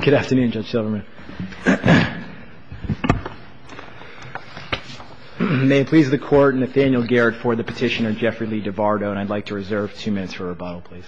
Good afternoon, Judge Silverman. May it please the Court, Nathaniel Garrett for the petitioner Jeffrey Lee Duvardo, and I'd like to reserve two minutes for rebuttal, please.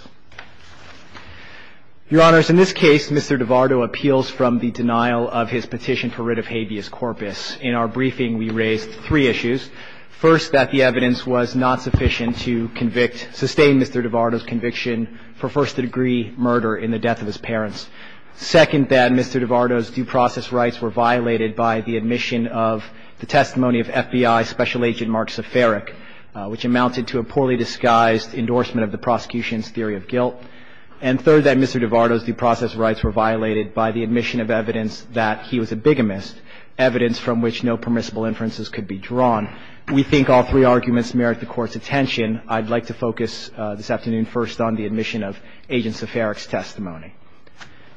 Your Honors, in this case, Mr. Duvardo appeals from the denial of his petition for writ of habeas corpus. In our briefing, we raised three issues. First, that the evidence was not sufficient to convict, sustain Mr. Duvardo's conviction for first-degree murder in the death of his parents. Second, that Mr. Duvardo's due process rights were violated by the admission of the testimony of FBI Special Agent Mark Zafaric, which amounted to a poorly disguised endorsement of the prosecution's theory of guilt. And third, that Mr. Duvardo's due process rights were violated by the admission of evidence that he was a bigamist, evidence from which no permissible inferences could be drawn. We think all three arguments merit the Court's attention. I'd like to focus this afternoon first on the admission of Agent Zafaric's testimony.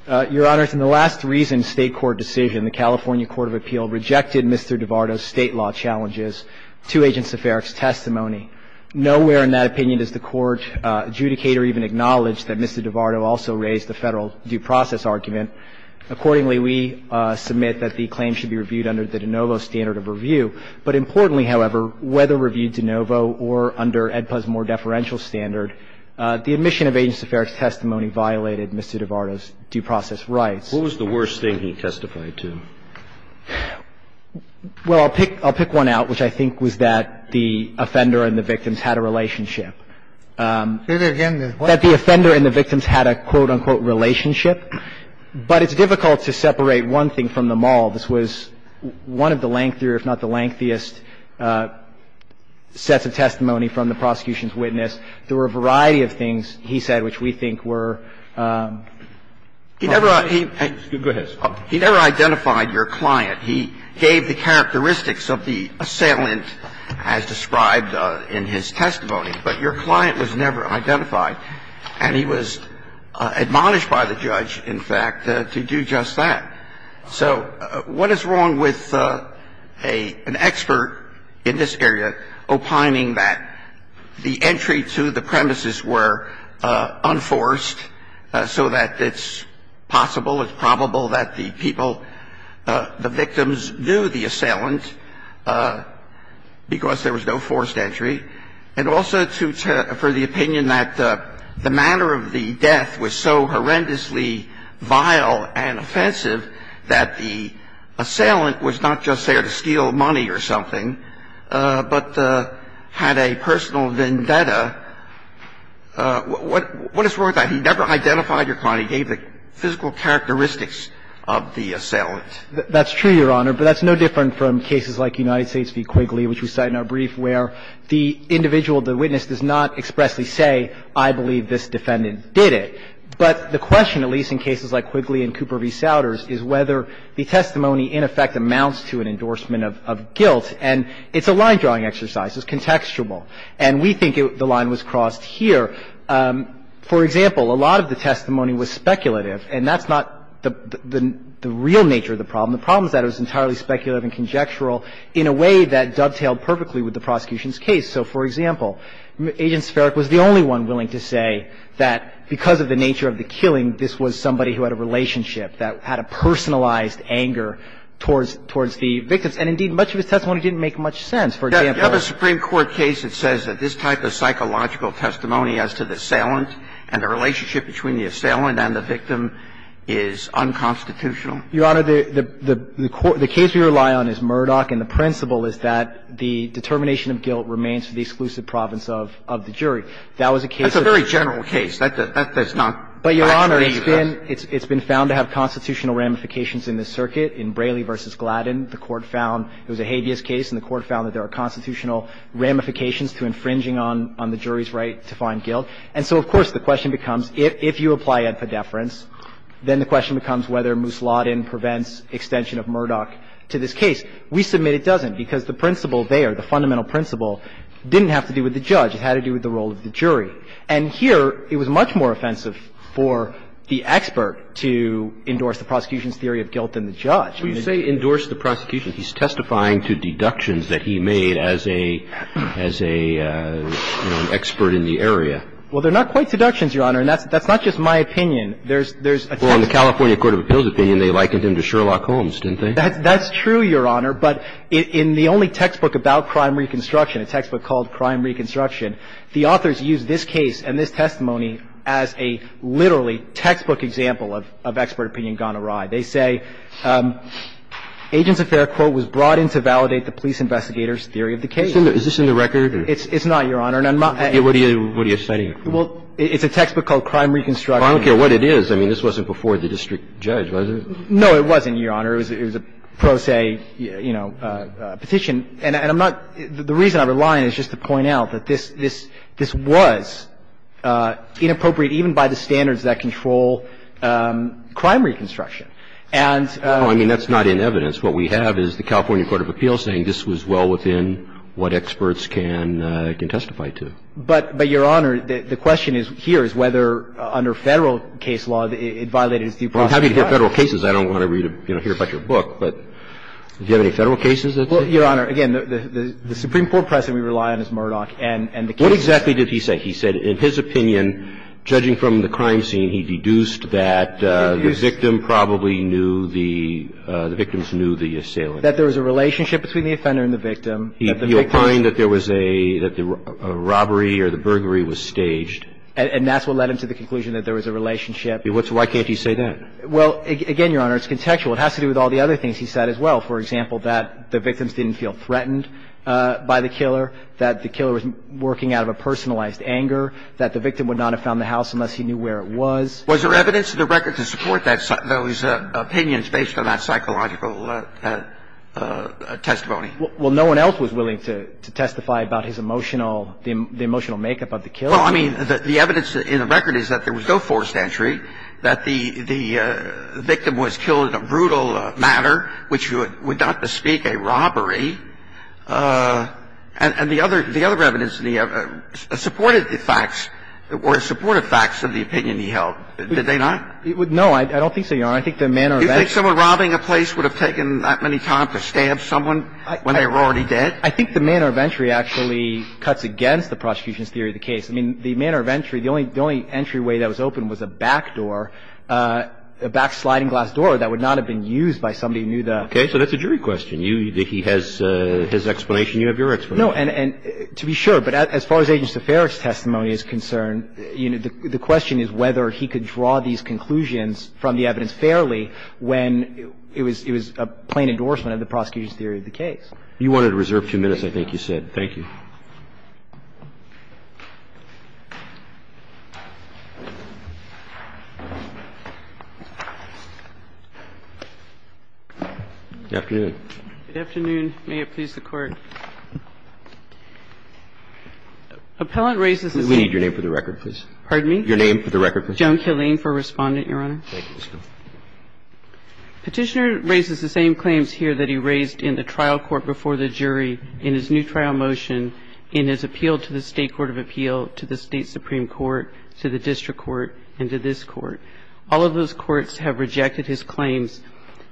Your Honors, in the last reasoned State court decision, the California Court of Appeal rejected Mr. Duvardo's State law challenges to Agent Zafaric's testimony. Nowhere in that opinion does the Court adjudicate or even acknowledge that Mr. Duvardo also raised the Federal due process argument. Accordingly, we submit that the claim should be reviewed under the de novo standard of review. But importantly, however, whether reviewed de novo or under AEDPA's more deferential standard, the admission of Agent Zafaric's testimony violated Mr. Duvardo's due process rights. What was the worst thing he testified to? Well, I'll pick one out, which I think was that the offender and the victims had a relationship. Say that again. That the offender and the victims had a, quote, unquote, relationship. But it's difficult to separate one thing from them all. This was one of the lengthier, if not the lengthiest, There were a variety of things he said which we think were unreliable. He never identified your client. He gave the characteristics of the assailant as described in his testimony. But your client was never identified. And he was admonished by the judge, in fact, to do just that. So what is wrong with an expert in this area of law? Well, I think it's important to note that the premises were unforced so that it's possible, it's probable that the people, the victims knew the assailant because there was no forced entry. And also for the opinion that the manner of the death was so horrendously vile and offensive that the assailant was not just there to steal money or something, but had a personal vendetta, what is wrong with that? He never identified your client. He gave the physical characteristics of the assailant. That's true, Your Honor. But that's no different from cases like United States v. Quigley, which we cite in our brief, where the individual, the witness, does not expressly say, I believe this defendant did it. But the question, at least in cases like Quigley and Cooper v. Souders, is whether the testimony, in effect, amounts to an endorsement of guilt. And it's a line-drawing exercise. It's contextual. And we think the line was crossed here. For example, a lot of the testimony was speculative, and that's not the real nature of the problem. The problem is that it was entirely speculative and conjectural in a way that dovetailed perfectly with the prosecution's case. So, for example, Agent Sparic was the only one willing to say that because of the nature of the killing, this was somebody who had a relationship, that had a personalized anger towards the victims. And, indeed, much of his testimony didn't make much sense. For example You have a Supreme Court case that says that this type of psychological testimony as to the assailant and the relationship between the assailant and the victim is unconstitutional. Your Honor, the case we rely on is Murdoch, and the principle is that the determination of guilt remains for the exclusive province of the jury. That was a case that That's a very general case. That's not But, Your Honor, it's been found to have constitutional ramifications in this circuit. In Braley v. Gladden, the Court found it was a habeas case, and the Court found that there are constitutional ramifications to infringing on the jury's right to find guilt. And so, of course, the question becomes, if you apply ad pedeference, then the question becomes whether Moose Lawton prevents extension of Murdoch to this case. We submit it doesn't because the principle there, the fundamental principle, didn't have to do with the judge. It had to do with the role of the jury. And here, it was much more offensive for the expert to endorse the prosecution's theory of guilt than the judge. But you say endorse the prosecution. He's testifying to deductions that he made as a, as a, you know, an expert in the area. Well, they're not quite deductions, Your Honor, and that's not just my opinion. There's a text Well, in the California court of appeals opinion, they likened him to Sherlock Holmes, didn't they? That's true, Your Honor, but in the only textbook about crime reconstruction, a textbook called Crime Reconstruction, the authors use this case and this testimony as a literally textbook example of, of expert opinion gone awry. They say agent's affair, quote, was brought in to validate the police investigator's theory of the case. Is this in the record? It's not, Your Honor. And I'm not What are you citing? Well, it's a textbook called Crime Reconstruction. Well, I don't care what it is. I mean, this wasn't before the district judge, was it? No, it wasn't, Your Honor. It was a pro se, you know, petition. And I'm not the reason I'm relying. It's just to point out that this, this, this was inappropriate even by the standards that control crime reconstruction. And No, I mean, that's not in evidence. What we have is the California court of appeals saying this was well within what experts can, can testify to. But, but, Your Honor, the question here is whether under Federal case law it violated its due process. Well, I'm happy to hear Federal cases. I don't want to read, you know, hear about your book, but do you have any Federal cases that say But, but, Your Honor, again, the Supreme Court press that we rely on is Murdoch and, and the case. What exactly did he say? He said, in his opinion, judging from the crime scene, he deduced that the He deduced victim probably knew the, the victims knew the assailant. That there was a relationship between the offender and the victim, that the victim He opined that there was a, that the robbery or the burglary was staged. And that's what led him to the conclusion that there was a relationship. Why can't he say that? Well, again, Your Honor, it's contextual. It has to do with all the other things he said as well. For example, that the victims didn't feel threatened by the killer, that the killer was working out of a personalized anger, that the victim would not have found the house unless he knew where it was. Was there evidence in the record to support that, those opinions based on that psychological testimony? Well, no one else was willing to, to testify about his emotional, the emotional makeup of the killer. Well, I mean, the evidence in the record is that there was no forced entry, that the victim was killed in a brutal manner, which would not bespeak a robbery. And the other, the other evidence in the evidence supported the facts or supported facts of the opinion he held. Did they not? No, I don't think so, Your Honor. I think the manner of entry Do you think someone robbing a place would have taken that many times to stab someone when they were already dead? I think the manner of entry actually cuts against the prosecution's theory of the case. I mean, the manner of entry, the only, the only entryway that was open was a back door, a back sliding glass door that would not have been used by somebody who knew the Okay. So that's a jury question. You, he has his explanation. You have your explanation. No. And to be sure, but as far as Agent Saffare's testimony is concerned, you know, the question is whether he could draw these conclusions from the evidence fairly when it was, it was a plain endorsement of the prosecution's theory of the case. You wanted to reserve two minutes, I think you said. Thank you. Good morning. Good afternoon. Right afternoon. Right afternoon. Good afternoon. May it please the Court. Appellant raises We need your name for the record, please. Your name for the record, please. Joan Killane for Respondent, Your Honor. Thank you. Petitioner raises the same claims here that he raised in the trial court before the jury in his new trial motion in his appeal to the State Court of Appeal, to the State Supreme Court, to the District Court, and to this Court. All of those courts have rejected his claims,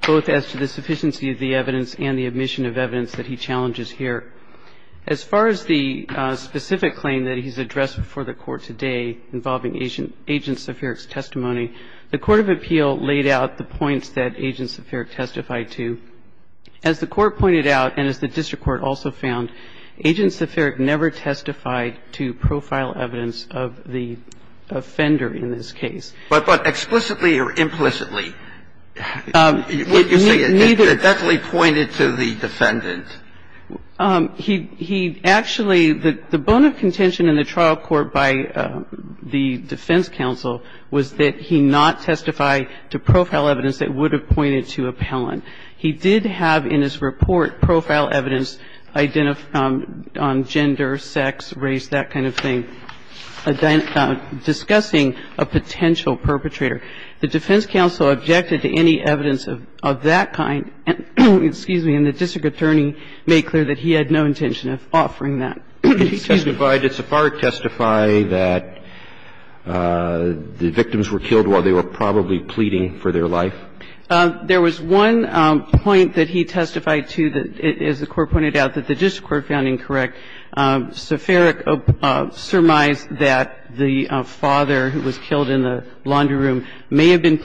both as to the sufficiency of the evidence and the admission of evidence that he challenges here. As far as the specific claim that he's addressed before the Court today involving agents of Herrick's testimony, the Court of Appeal laid out the points that agents of Herrick testified to. As the Court pointed out, and as the District Court also found, agents of Herrick never testified to profile evidence of the offender in this case. But explicitly or implicitly? It definitely pointed to the defendant. He actually, the bone of contention in the trial court by the defense counsel was that he not testified to profile evidence that would have pointed to appellant. He did have in his report profile evidence on gender, sex, race, that kind of thing, discussing a potential perpetrator. The defense counsel objected to any evidence of that kind. And the District Attorney made clear that he had no intention of offering that. He testified. Did Sepharic testify that the victims were killed while they were probably pleading for their life? There was one point that he testified to that, as the Court pointed out, that the District Court found incorrect. Sepharic surmised that the father who was killed in the laundry room may have been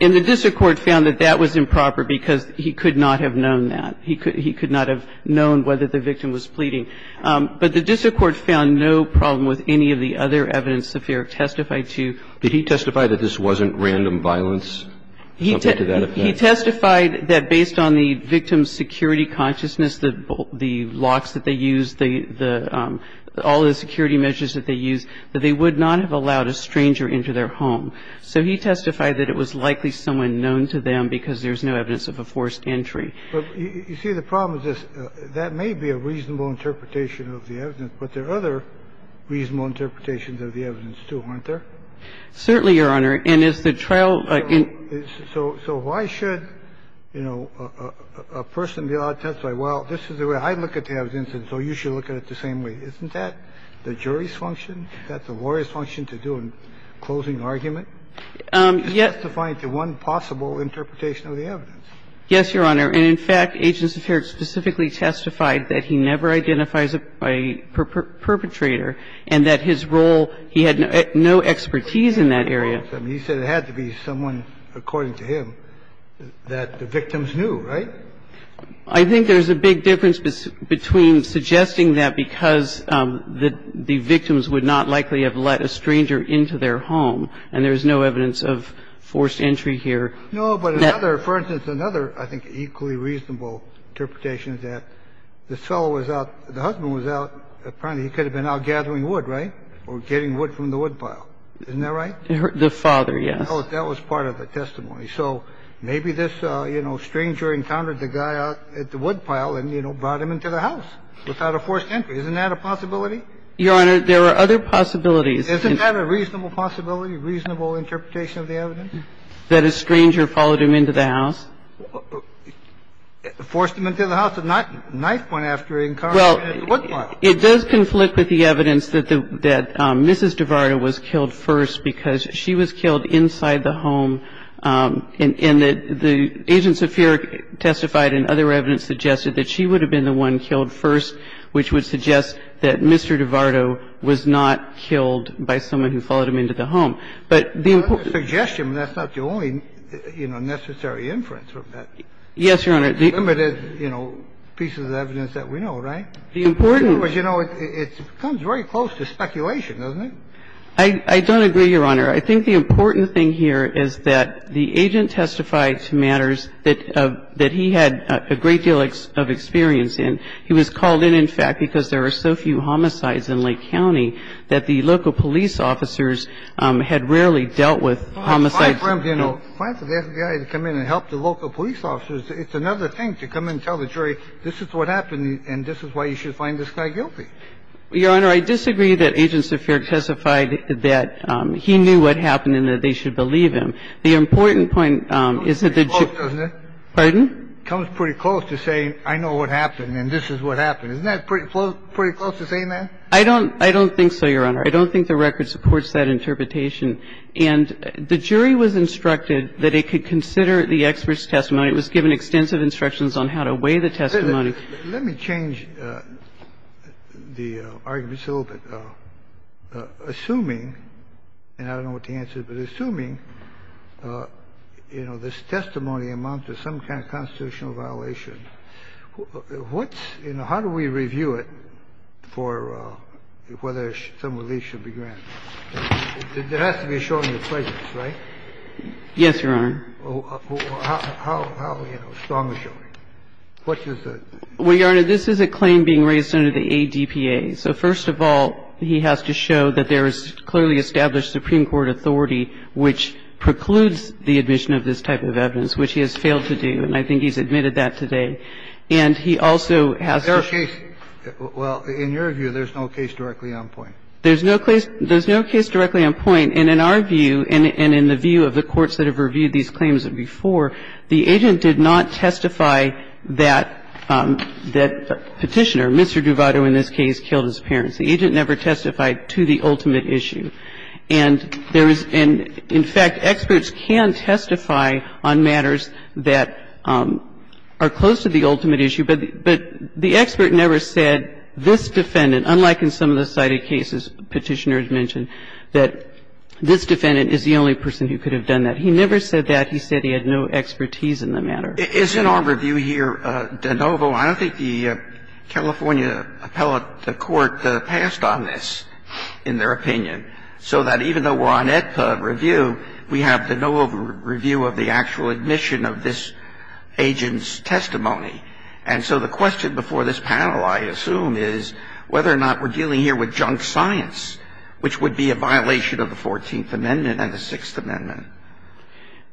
And the District Court found that that was improper because he could not have known that. He could not have known whether the victim was pleading. But the District Court found no problem with any of the other evidence Sepharic testified to. Did he testify that this wasn't random violence? He testified that based on the victim's security consciousness, the locks that they used, all the security measures that they used, that they would not have allowed a stranger into their home. So he testified that it was likely someone known to them because there's no evidence of a forced entry. But you see, the problem is this. That may be a reasonable interpretation of the evidence, but there are other reasonable interpretations of the evidence, too, aren't there? Certainly, Your Honor. And is the trial So why should, you know, a person be allowed to testify, well, this is the way I look at the evidence, and so you should look at it the same way. Isn't that the jury's function? Is that the lawyer's function to do a closing argument? He's testifying to one possible interpretation of the evidence. Yes, Your Honor. And, in fact, Agents Sepharic specifically testified that he never identifies a perpetrator and that his role he had no expertise in that area. He said it had to be someone, according to him, that the victims knew, right? I think there's a big difference between suggesting that because the victims would not likely have let a stranger into their home, and there's no evidence of forced entry here. No, but another, for instance, another, I think, equally reasonable interpretation is that this fellow was out, the husband was out, apparently he could have been out gathering wood, right, or getting wood from the woodpile. Isn't that right? The father, yes. That was part of the testimony. So maybe this, you know, stranger encountered the guy out at the woodpile and, you know, brought him into the house without a forced entry. Isn't that a possibility? Your Honor, there are other possibilities. Isn't that a reasonable possibility, reasonable interpretation of the evidence? That a stranger followed him into the house. Forced him into the house and not knifed one after encountering him at the woodpile. Well, it does conflict with the evidence that the Mrs. DiVardo was killed first because she was killed inside the home, and that the Agents Sepharic testified and other evidence suggested that she would have been the one killed first, which would suggest that Mr. DiVardo was not killed by someone who followed him into the home. But the important... That's a suggestion. That's not the only, you know, necessary inference from that. Yes, Your Honor. Limited, you know, pieces of evidence that we know, right? The important... Because, you know, it comes very close to speculation, doesn't it? I don't agree, Your Honor. I think the important thing here is that the Agent testified to matters that he had a great deal of experience in. He was called in, in fact, because there are so few homicides in Lake County that the local police officers had rarely dealt with homicides. Well, if I, for instance, asked a guy to come in and help the local police officers, it's another thing to come in and tell the jury, this is what happened and this is why you should find this guy guilty. Your Honor, I disagree that Agents Sepharic testified that he knew what happened and that they should believe him. The important point is that the... It comes pretty close, doesn't it? Pardon? It comes pretty close to saying I know what happened and this is what happened. Isn't that pretty close to saying that? I don't think so, Your Honor. I don't think the record supports that interpretation. And the jury was instructed that it could consider the expert's testimony. It was given extensive instructions on how to weigh the testimony. Let me change the argument a little bit. Assuming, and I don't know what the answer is, but assuming, you know, this testimony amounts to some kind of constitutional violation, what's, you know, how do we review it for whether some relief should be granted? It has to be shown in the plaintiffs, right? Yes, Your Honor. How, you know, strongly showing? What is the... Well, Your Honor, this is a claim being raised under the ADPA. So first of all, he has to show that there is clearly established Supreme Court authority which precludes the admission of this type of evidence, which he has failed to do. And I think he's admitted that today. And he also has to... Well, in your view, there's no case directly on point. There's no case directly on point. And in our view and in the view of the courts that have reviewed these claims before, the agent did not testify that Petitioner, Mr. Duvado in this case, killed his parents. The agent never testified to the ultimate issue. And in fact, experts can testify on matters that are close to the ultimate issue. But the expert never said this defendant, unlike in some of the cited cases Petitioner has mentioned, that this defendant is the only person who could have done that. He never said that. He said he had no expertise in the matter. Isn't our review here de novo? I don't think the California appellate court passed on this in their opinion. So that even though we're on EDPA review, we have de novo review of the actual admission of this agent's testimony. And so the question before this panel, I assume, is whether or not we're dealing here with junk science, which would be a violation of the 14th Amendment and the 6th Amendment.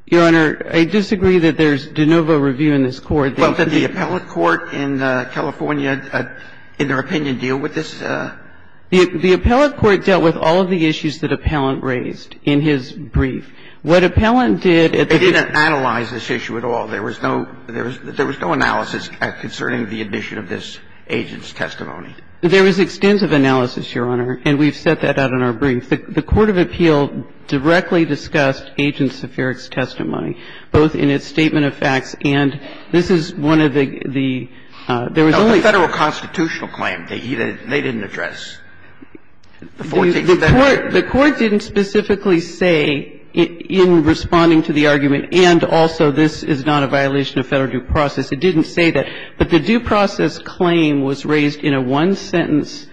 Your Honor, I disagree that there's de novo review in this court. Well, did the appellate court in California, in their opinion, deal with this? The appellate court dealt with all of the issues that Appellant raised in his brief. What Appellant did at the beginning of the case was not to analyze this issue at all. There was no analysis concerning the admission of this agent's testimony. There was extensive analysis, Your Honor, and we've set that out in our brief. The court of appeal directly discussed Agent Zafiric's testimony, both in its statement of facts and this is one of the – there was only one. The court did not specifically say in responding to the argument, and also this is not a violation of Federal due process, it didn't say that. But the due process claim was raised in a one-sentence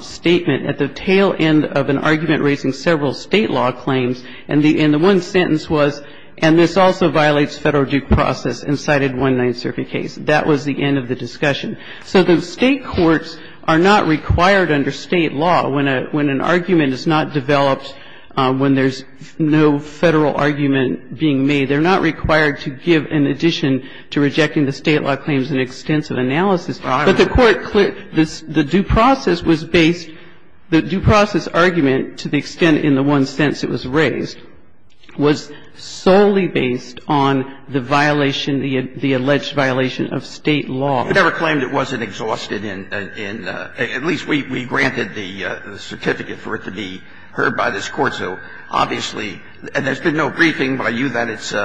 statement at the tail end of an argument raising several State law claims, and the one sentence was, and this also violates Federal due process, and cited one nonsurface case. That was the end of the discussion. So the State courts are not required under State law, when an argument is not developed when there's no Federal argument being made, they're not required to give an addition to rejecting the State law claims in extensive analysis. But the court – the due process was based – the due process argument, to the extent in the one sense it was raised, was solely based on the violation, the alleged violation of State law. You never claimed it wasn't exhausted in – at least we granted the certificate for it to be heard by this Court, so obviously – and there's been no briefing by you that it's –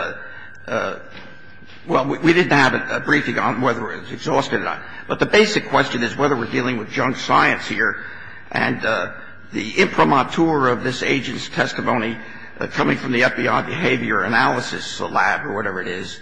well, we didn't have a briefing on whether it was exhausted or not. But the basic question is whether we're dealing with junk science here, and the imprimatur of this agent's testimony coming from the FBI behavior analysis lab or whatever it is,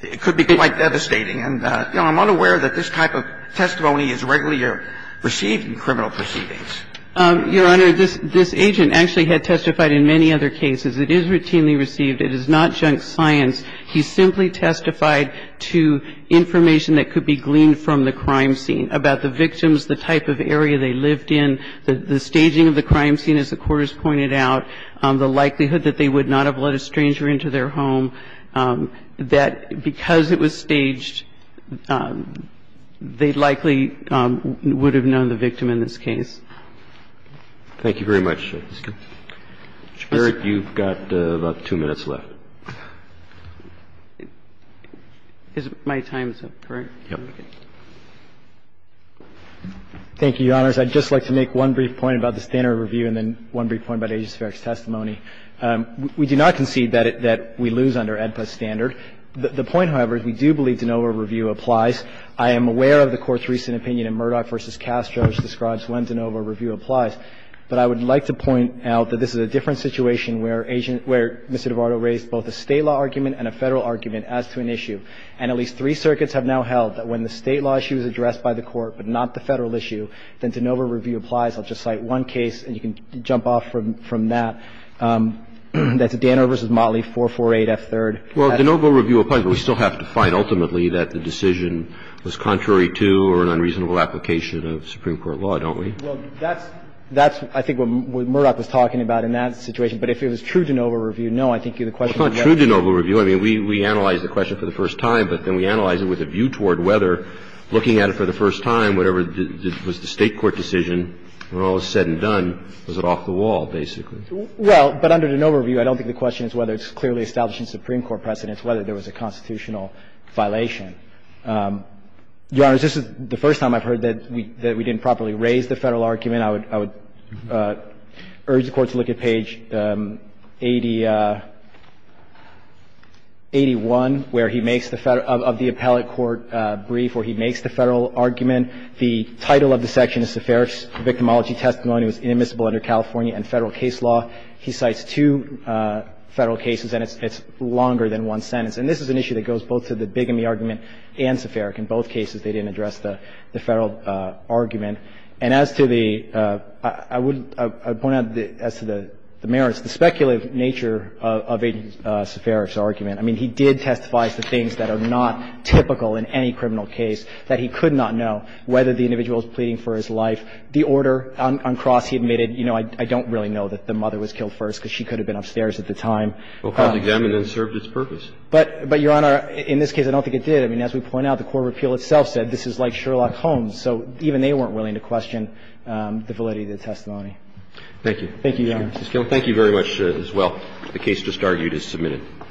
it could be quite devastating, and I'm unaware that this type of testimony is regularly received in criminal proceedings. Your Honor, this agent actually had testified in many other cases. It is routinely received. It is not junk science. He simply testified to information that could be gleaned from the crime scene about the victims, the type of area they lived in, the staging of the crime scene, as the victim would have known the victim in this case. Thank you very much. Mr. Barrett, you've got about two minutes left. My time is up, correct? Yes. Thank you, Your Honors. I'd just like to make one brief point about the standard review and then one brief point about Agent Sparrow's testimony. We do not concede that we lose under AEDPA standard. The point, however, is we do believe de novo review applies. I am aware of the Court's recent opinion in Murdoch v. Castro, which describes when de novo review applies, but I would like to point out that this is a different situation where Mr. Duvardo raised both a State law argument and a Federal argument as to an issue, and at least three circuits have now held that when the State law issue is addressed by the Court but not the Federal issue, then de novo review applies. I'll just cite one case, and you can jump off from that. That's Danner v. Motley, 448F3rd. Well, de novo review applies, but we still have to find ultimately that the decision was contrary to or an unreasonable application of Supreme Court law, don't we? Well, that's what I think what Murdoch was talking about in that situation, but if it was true de novo review, no, I think the question is yes. Well, it's not true de novo review. I mean, we analyzed the question for the first time, but then we analyzed it with a view toward whether, looking at it for the first time, whatever was the State court decision, when all is said and done, was it off the wall, basically? Well, but under de novo review, I don't think the question is whether it's clearly establishing Supreme Court precedents, whether there was a constitutional violation. Your Honors, this is the first time I've heard that we didn't properly raise the Federal argument. I would urge the Court to look at page 8081, where he makes the Federal – of the appellate court brief where he makes the Federal argument. The title of the section is Seferov's victimology testimony was inadmissible under California and Federal case law. He cites two Federal cases, and it's longer than one sentence. And this is an issue that goes both to the Bigamy argument and Seferov. In both cases, they didn't address the Federal argument. And as to the – I would point out as to the merits, the speculative nature of Seferov's argument. I mean, he did testify to things that are not typical in any criminal case, that he could not know whether the individual was pleading for his life. The order on Cross, he admitted, you know, I don't really know that the mother was killed first because she could have been upstairs at the time. Well, Cross examined it and served its purpose. But, Your Honor, in this case, I don't think it did. I mean, as we point out, the court of appeal itself said this is like Sherlock Holmes. So even they weren't willing to question the validity of the testimony. Thank you. Thank you, Your Honor. Thank you very much as well. The case just argued is submitted.